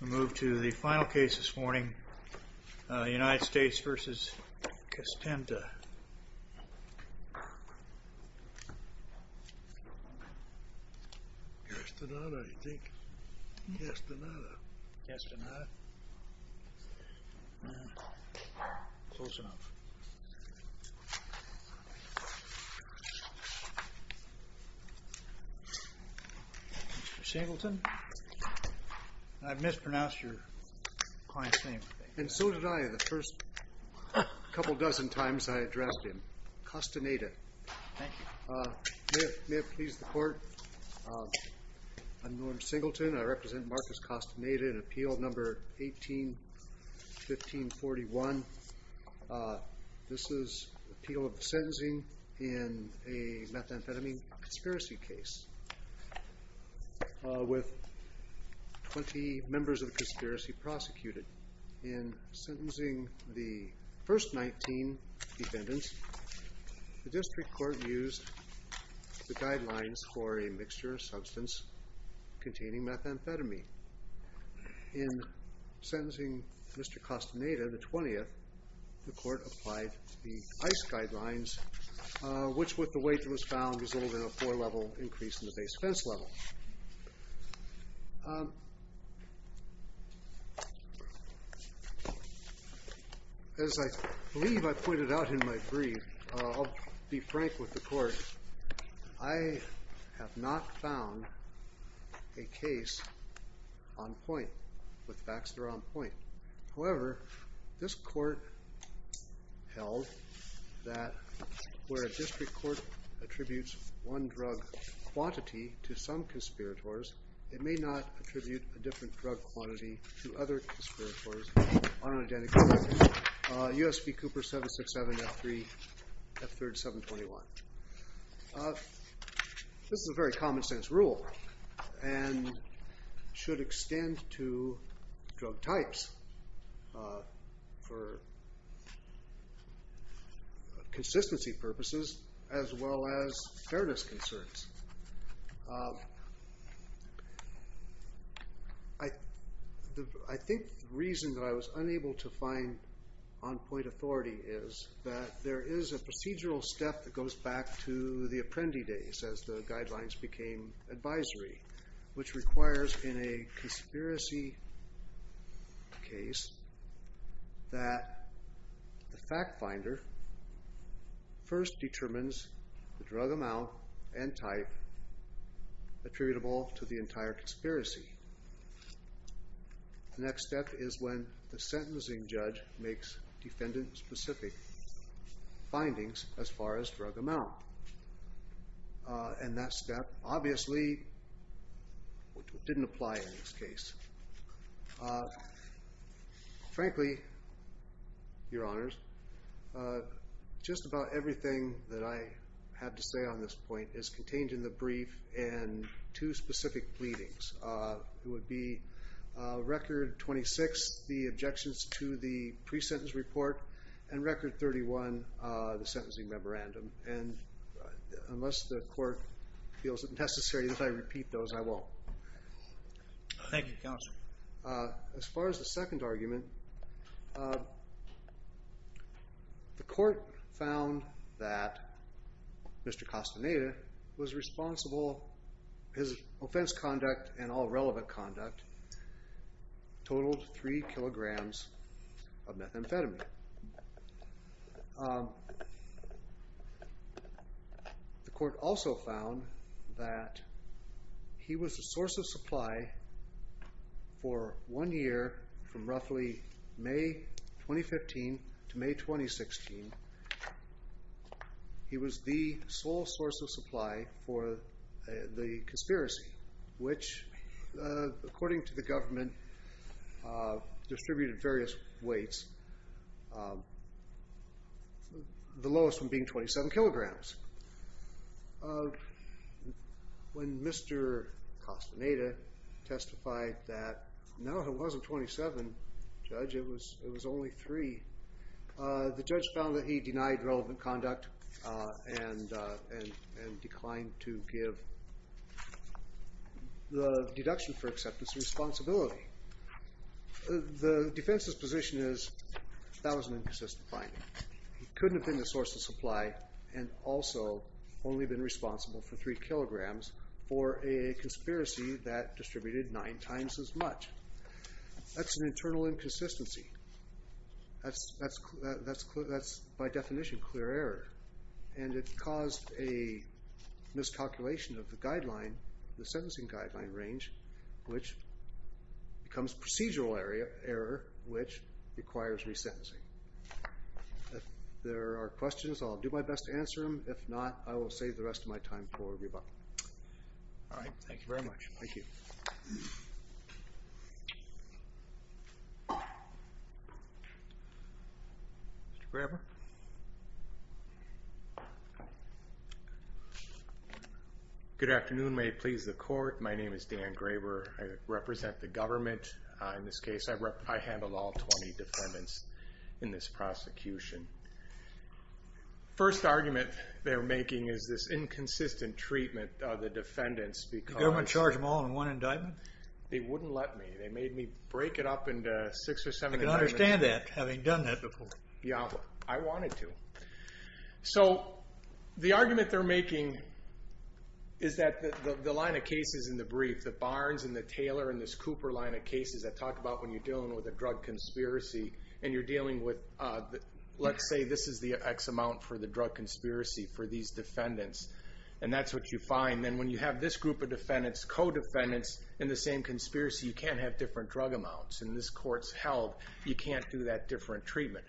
We move to the final case this morning, United States v. Castenta. Castaneda, I think. Castaneda. Castaneda. Close enough. Mr. Singleton, I mispronounced your client's name. And so did I the first couple dozen times I addressed him. Castaneda. Thank you. May it please the court. I'm Norm Singleton. I represent Marcos Castaneda in Appeal No. 18-1541. This is the appeal of the sentencing in a methamphetamine conspiracy case with 20 members of the conspiracy prosecuted. In sentencing the first 19 defendants, the district court used the guidelines for a mixture of substance containing methamphetamine. In sentencing Mr. Castaneda, the 20th, the court applied the ICE guidelines, which with the weight that was found resulted in a four-level increase in the base defense level. As I believe I pointed out in my brief, I'll be frank with the court. I have not found a case on point with Baxter on point. However, this court held that where a district court attributes one drug quantity to some conspirators, it may not attribute a different drug quantity to other conspirators on an identical record. USP Cooper 767 F3 F3rd 721. This is a very common sense rule and should extend to drug types for consistency purposes as well as fairness concerns. I think the reason that I was unable to find on point authority is that there is a procedural step that goes back to the Apprendi days as the guidelines became advisory, which requires in a conspiracy case that the fact finder first determines the drug amount and type attributable to the entire conspiracy. The next step is when the sentencing judge makes defendant specific findings as far as drug amount. And that step obviously didn't apply in this case. Frankly, your honors, just about everything that I had to say on this point is contained in the brief and two specific pleadings. It would be record 26, the objections to the pre-sentence report and record 31, the sentencing memorandum. And unless the court feels it necessary that I repeat those, I won't. Thank you, counsel. As far as the second argument, the court found that Mr. Costaneda was responsible. His offense conduct and all relevant conduct totaled three kilograms of methamphetamine. The court also found that he was the source of supply for one year from roughly May 2015 to May 2016. He was the sole source of supply for the conspiracy, which, according to the government, distributed various weights, the lowest of being 27 kilograms. When Mr. Costaneda testified that, no, it wasn't 27, judge, it was only three. The judge found that he denied relevant conduct and declined to give the deduction for acceptance responsibility. The defense's position is that was an inconsistent finding. He couldn't have been the source of supply and also only been responsible for three kilograms for a conspiracy that distributed nine times as much. That's an internal inconsistency. That's by definition clear error. And it caused a miscalculation of the sentencing guideline range, which becomes procedural error, which requires resentencing. If there are questions, I'll do my best to answer them. If not, I will save the rest of my time for rebuttal. All right, thank you very much. Thank you. Mr. Graber? Good afternoon. May it please the court. My name is Dan Graber. I represent the government in this case. I handle all 20 defendants in this prosecution. First argument they're making is this inconsistent treatment of the defendants because... They wouldn't let me. They made me break it up into six or seven... I can understand that, having done that before. Yeah, I wanted to. So the argument they're making is that the line of cases in the brief, the Barnes and the Taylor and this Cooper line of cases that talk about when you're dealing with a drug conspiracy and you're dealing with, let's say, this is the X amount for the drug conspiracy for these defendants. And that's what you find. Then when you have this group of defendants, co-defendants in the same conspiracy, you can't have different drug amounts. In this court's health, you can't do that different treatment.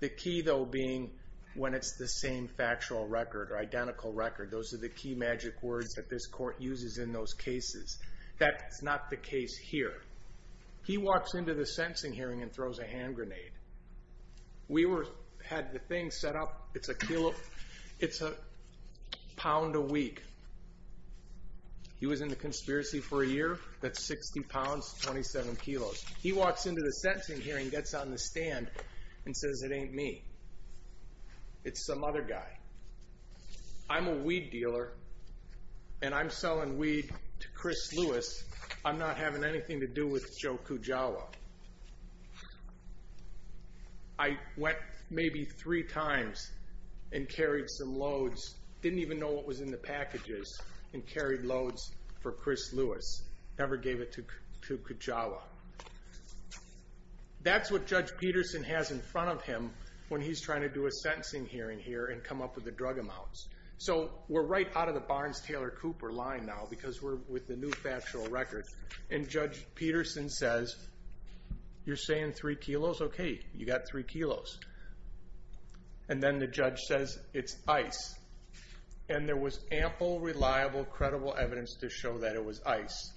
The key, though, being when it's the same factual record or identical record. Those are the key magic words that this court uses in those cases. That's not the case here. He walks into the sentencing hearing and throws a hand grenade. We had the thing set up. It's a pound a week. He was in the conspiracy for a year. That's 60 pounds, 27 kilos. He walks into the sentencing hearing, gets on the stand, and says, it ain't me. It's some other guy. I'm a weed dealer, and I'm selling weed to Chris Lewis. I'm not having anything to do with Joe Kujawa. I went maybe three times and carried some loads. Didn't even know what was in the packages and carried loads for Chris Lewis. Never gave it to Kujawa. That's what Judge Peterson has in front of him when he's trying to do a sentencing hearing here and come up with the drug amounts. We're right out of the Barnes-Taylor Cooper line now because we're with the new factual record. Judge Peterson says, you're saying three kilos? Okay, you got three kilos. Then the judge says, it's ice. There was ample, reliable, credible evidence to show that it was ice.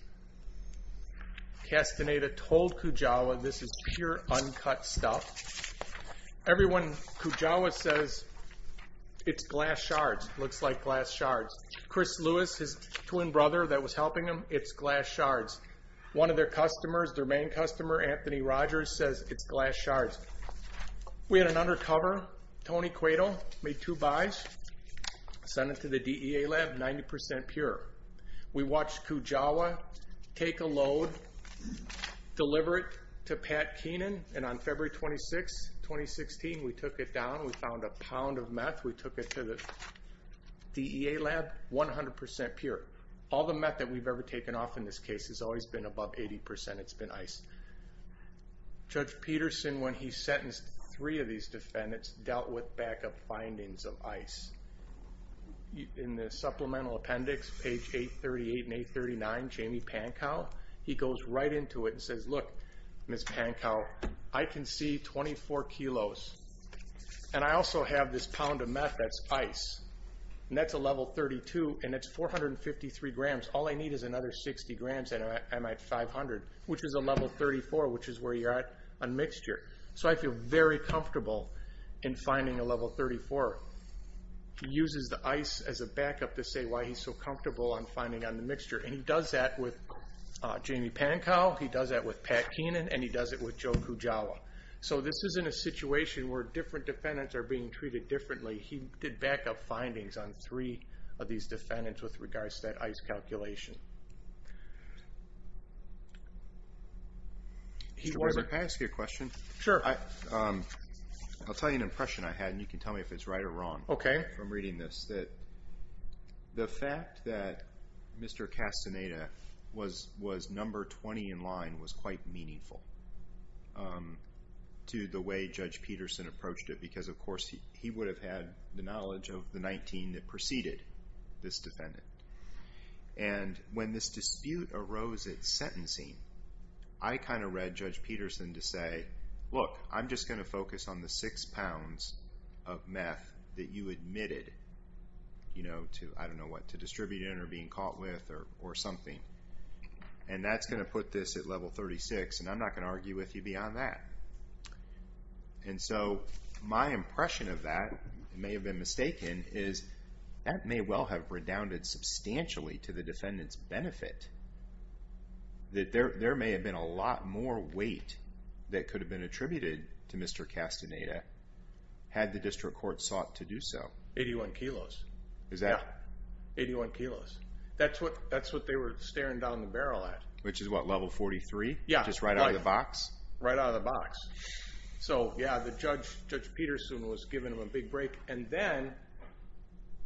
Castaneda told Kujawa, this is pure, uncut stuff. Everyone, Kujawa says, it's glass shards. Looks like glass shards. Chris Lewis, his twin brother that was helping him, it's glass shards. One of their customers, their main customer, Anthony Rogers, says, it's glass shards. We had an undercover, Tony Cueto, made two buys, sent it to the DEA lab, 90% pure. We watched Kujawa take a load, deliver it to Pat Keenan, and on February 26, 2016, we took it down. We found a pound of meth. We took it to the DEA lab, 100% pure. All the meth that we've ever taken off in this case has always been above 80%. It's been ice. Judge Peterson, when he sentenced three of these defendants, dealt with backup findings of ice. In the supplemental appendix, page 838 and 839, Jamie Pankow, he goes right into it and says, Look, Ms. Pankow, I can see 24 kilos, and I also have this pound of meth that's ice. That's a level 32, and it's 453 grams. All I need is another 60 grams, and I'm at 500, which is a level 34, which is where you're at on mixture. So I feel very comfortable in finding a level 34. He uses the ice as a backup to say why he's so comfortable on finding on the mixture, and he does that with Jamie Pankow, he does that with Pat Keenan, and he does it with Joe Kujawa. So this isn't a situation where different defendants are being treated differently. He did backup findings on three of these defendants with regards to that ice calculation. Can I ask you a question? Sure. I'll tell you an impression I had, and you can tell me if it's right or wrong. Okay. From reading this, that the fact that Mr. Castaneda was number 20 in line was quite meaningful to the way Judge Peterson approached it because, of course, he would have had the knowledge of the 19 that preceded this defendant. And when this dispute arose at sentencing, I kind of read Judge Peterson to say, look, I'm just going to focus on the six pounds of meth that you admitted, you know, to, I don't know what, to distribute it or being caught with or something, and that's going to put this at level 36, and I'm not going to argue with you beyond that. And so my impression of that, it may have been mistaken, is that may well have redounded substantially to the defendant's benefit, that there may have been a lot more weight that could have been attributed to Mr. Castaneda had the district court sought to do so. 81 kilos. Is that? Yeah. 81 kilos. That's what they were staring down the barrel at. Which is what, level 43? Yeah. Just right out of the box? Right out of the box. So, yeah, the judge, Judge Peterson, was giving him a big break, and then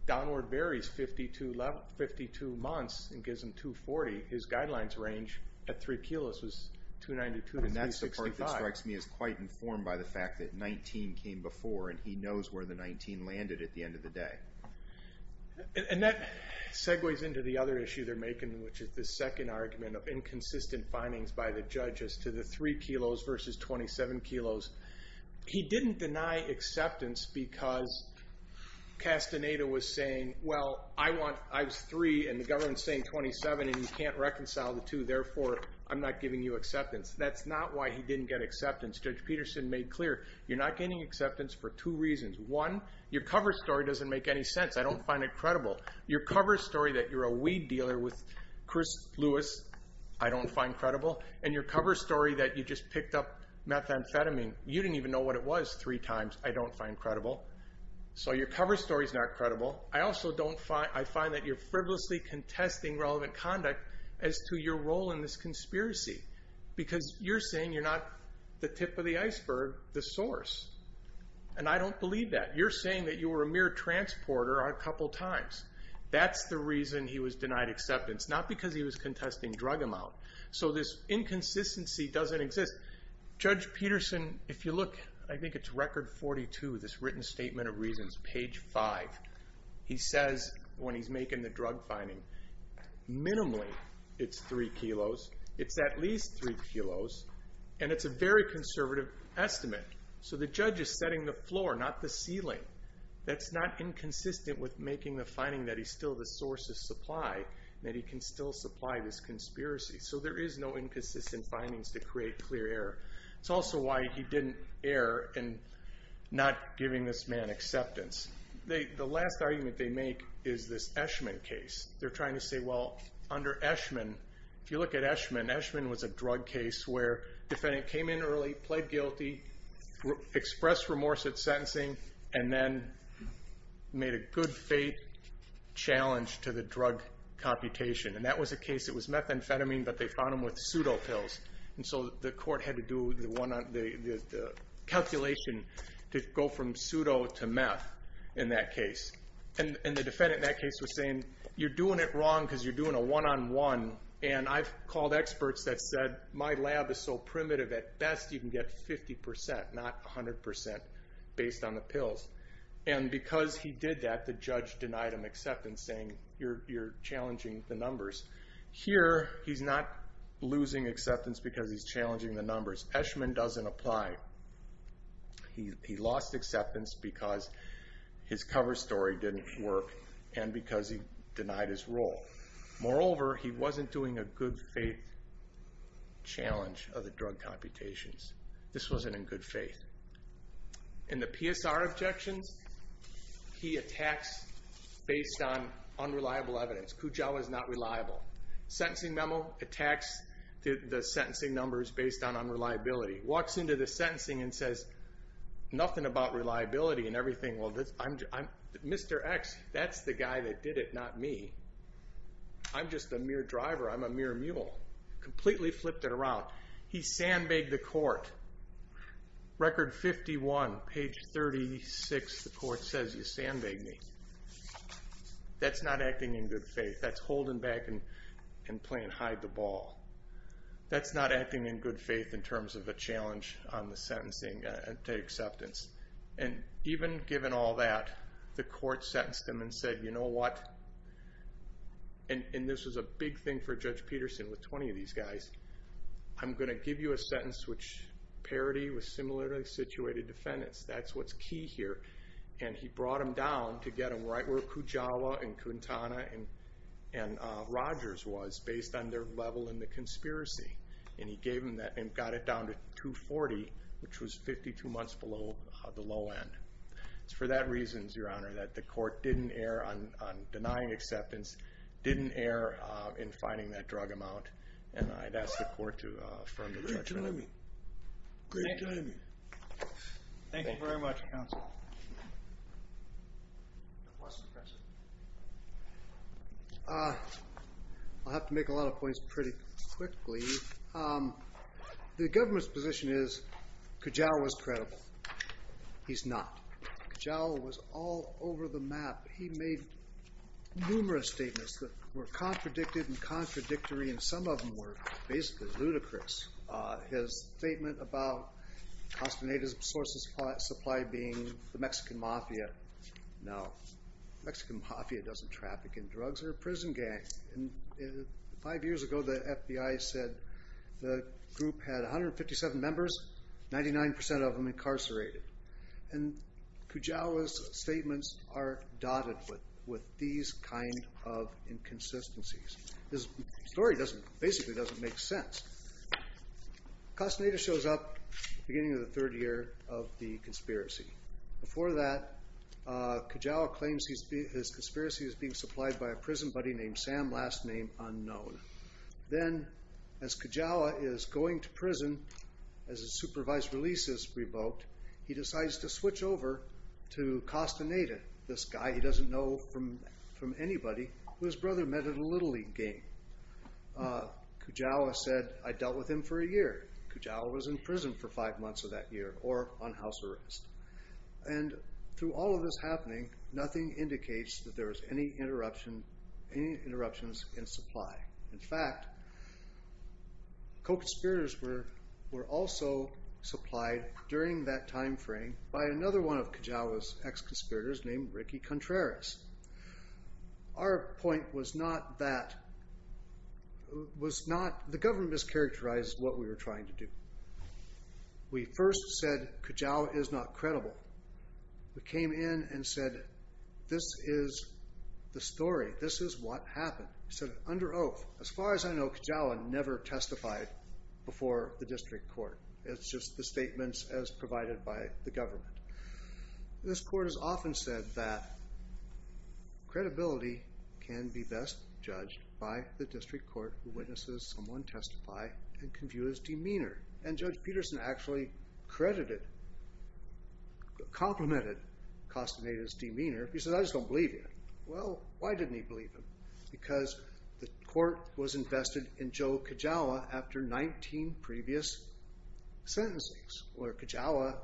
downward varies 52 months and gives him 240. His guidelines range at three kilos was 292 to 365. And that's the part that strikes me as quite informed by the fact that 19 came before, and he knows where the 19 landed at the end of the day. And that segues into the other issue they're making, which is the second argument of inconsistent findings by the judge as to the three kilos versus 27 kilos. He didn't deny acceptance because Castaneda was saying, well, I was three and the government's saying 27 and you can't reconcile the two, therefore I'm not giving you acceptance. That's not why he didn't get acceptance. Judge Peterson made clear, you're not getting acceptance for two reasons. One, your cover story doesn't make any sense. I don't find it credible. Your cover story that you're a weed dealer with Chris Lewis, I don't find credible. And your cover story that you just picked up methamphetamine, you didn't even know what it was three times, I don't find credible. So your cover story's not credible. I also find that you're frivolously contesting relevant conduct as to your role in this conspiracy, because you're saying you're not the tip of the iceberg, the source. And I don't believe that. You're saying that you were a mere transporter a couple times. That's the reason he was denied acceptance, not because he was contesting drug amount. So this inconsistency doesn't exist. Judge Peterson, if you look, I think it's Record 42, this written statement of reasons, page 5. He says when he's making the drug finding, minimally it's three kilos, it's at least three kilos, and it's a very conservative estimate. So the judge is setting the floor, not the ceiling. That's not inconsistent with making the finding that he's still the source of supply, that he can still supply this conspiracy. So there is no inconsistent findings to create clear error. It's also why he didn't err in not giving this man acceptance. The last argument they make is this Eshman case. They're trying to say, well, under Eshman, if you look at Eshman, Eshman was a drug case where the defendant came in early, played guilty, expressed remorse at sentencing, and then made a good faith challenge to the drug computation. And that was a case, it was methamphetamine, but they found him with pseudopills. And so the court had to do the calculation to go from pseudo to meth in that case. And the defendant in that case was saying, you're doing it wrong because you're doing a one-on-one. And I've called experts that said, my lab is so primitive, at best you can get 50%, not 100% based on the pills. And because he did that, the judge denied him acceptance, saying you're challenging the numbers. Here, he's not losing acceptance because he's challenging the numbers. Eshman doesn't apply. He lost acceptance because his cover story didn't work and because he denied his role. Moreover, he wasn't doing a good faith challenge of the drug computations. This wasn't in good faith. In the PSR objections, he attacks based on unreliable evidence. Kujawa is not reliable. Sentencing memo attacks the sentencing numbers based on unreliability. Walks into the sentencing and says, nothing about reliability and everything. Well, Mr. X, that's the guy that did it, not me. I'm just a mere driver. I'm a mere mule. Completely flipped it around. He sandbagged the court. Record 51, page 36, the court says, you sandbagged me. That's not acting in good faith. That's holding back and playing hide the ball. That's not acting in good faith in terms of a challenge on the sentencing acceptance. And even given all that, the court sentenced him and said, you know what? And this was a big thing for Judge Peterson with 20 of these guys. I'm going to give you a sentence which parity with similarly situated defendants. That's what's key here. And he brought him down to get him right where Kujawa and Kuntana and Rogers was based on their level in the conspiracy. And he gave him that and got it down to 240, which was 52 months below the low end. It's for that reason, Your Honor, that the court didn't err on denying acceptance, didn't err in fining that drug amount. And I'd ask the court to affirm the judgment. Great timing. Great timing. Thank you very much, Counsel. I'll have to make a lot of points pretty quickly. The government's position is Kujawa was credible. He's not. Kujawa was all over the map. He made numerous statements that were contradicted and contradictory, and some of them were basically ludicrous. His statement about consternated sources of supply being the Mexican mafia. No. The Mexican mafia doesn't traffic in drugs. They're a prison gang. And five years ago, the FBI said the group had 157 members, 99% of them incarcerated. And Kujawa's statements are dotted with these kind of inconsistencies. This story basically doesn't make sense. Consternated shows up beginning of the third year of the conspiracy. Before that, Kujawa claims his conspiracy is being supplied by a prison buddy named Sam, last name unknown. Then, as Kujawa is going to prison, as his supervised release is revoked, he decides to switch over to Consternated, this guy he doesn't know from anybody who his brother met at a Little League game. Kujawa said, I dealt with him for a year. Kujawa was in prison for five months of that year, or on house arrest. And through all of this happening, nothing indicates that there was any interruptions in supply. In fact, co-conspirators were also supplied during that time frame by another one of Kujawa's ex-conspirators named Ricky Contreras. Our point was not that the government mischaracterized what we were trying to do. We first said Kujawa is not credible. We came in and said, this is the story. This is what happened. We said, under oath. As far as I know, Kujawa never testified before the district court. It's just the statements as provided by the government. This court has often said that credibility can be best judged by the district court who witnesses someone testify and can view his demeanor. And Judge Peterson actually credited, complimented Consternated's demeanor. He said, I just don't believe you. Well, why didn't he believe him? Because the court was invested in Joe Kujawa after 19 previous sentences, where Kujawa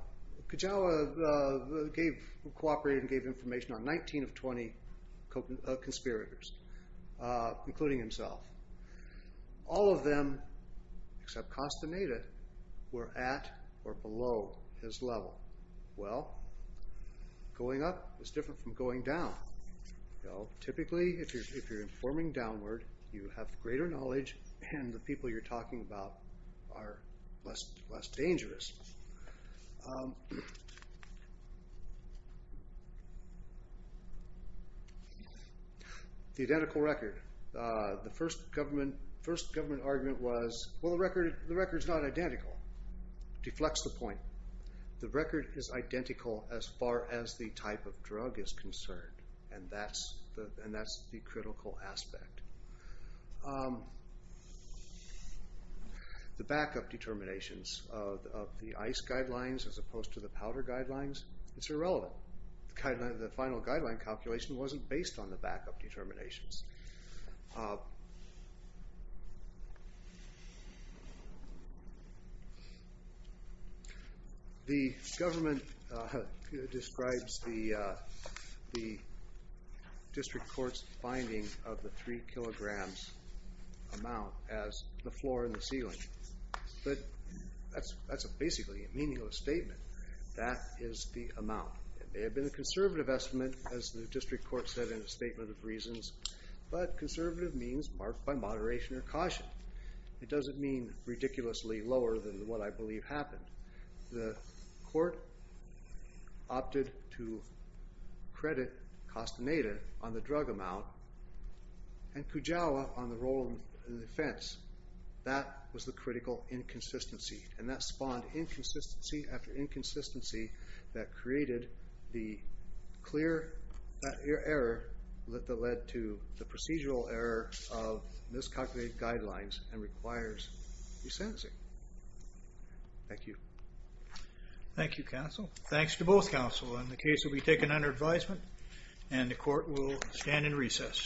cooperated and gave information on 19 of 20 conspirators, including himself. All of them, except Consternated, were at or below his level. Well, going up is different from going down. Typically, if you're informing downward, you have greater knowledge, and the people you're talking about are less dangerous. The identical record. The first government argument was, well, the record is not identical. It deflects the point. The record is identical as far as the type of drug is concerned. And that's the critical aspect. The backup determinations of the ICE guidelines as opposed to the powder guidelines, it's irrelevant. The final guideline calculation wasn't based on the backup determinations. The government describes the district court's finding of the three kilograms amount as the floor and the ceiling. But that's basically a meaningless statement. That is the amount. It may have been a conservative estimate, as the district court said in the Statement of Reasons, but conservative means marked by moderation or caution. It doesn't mean ridiculously lower than what I believe happened. The court opted to credit Consternated on the drug amount and Kujawa on the role of defense. That was the critical inconsistency, and that spawned inconsistency after inconsistency that created the clear error that led to the procedural error of miscalculated guidelines and requires resentencing. Thank you. Thank you, counsel. Thanks to both counsel. And the case will be taken under advisement, and the court will stand in recess.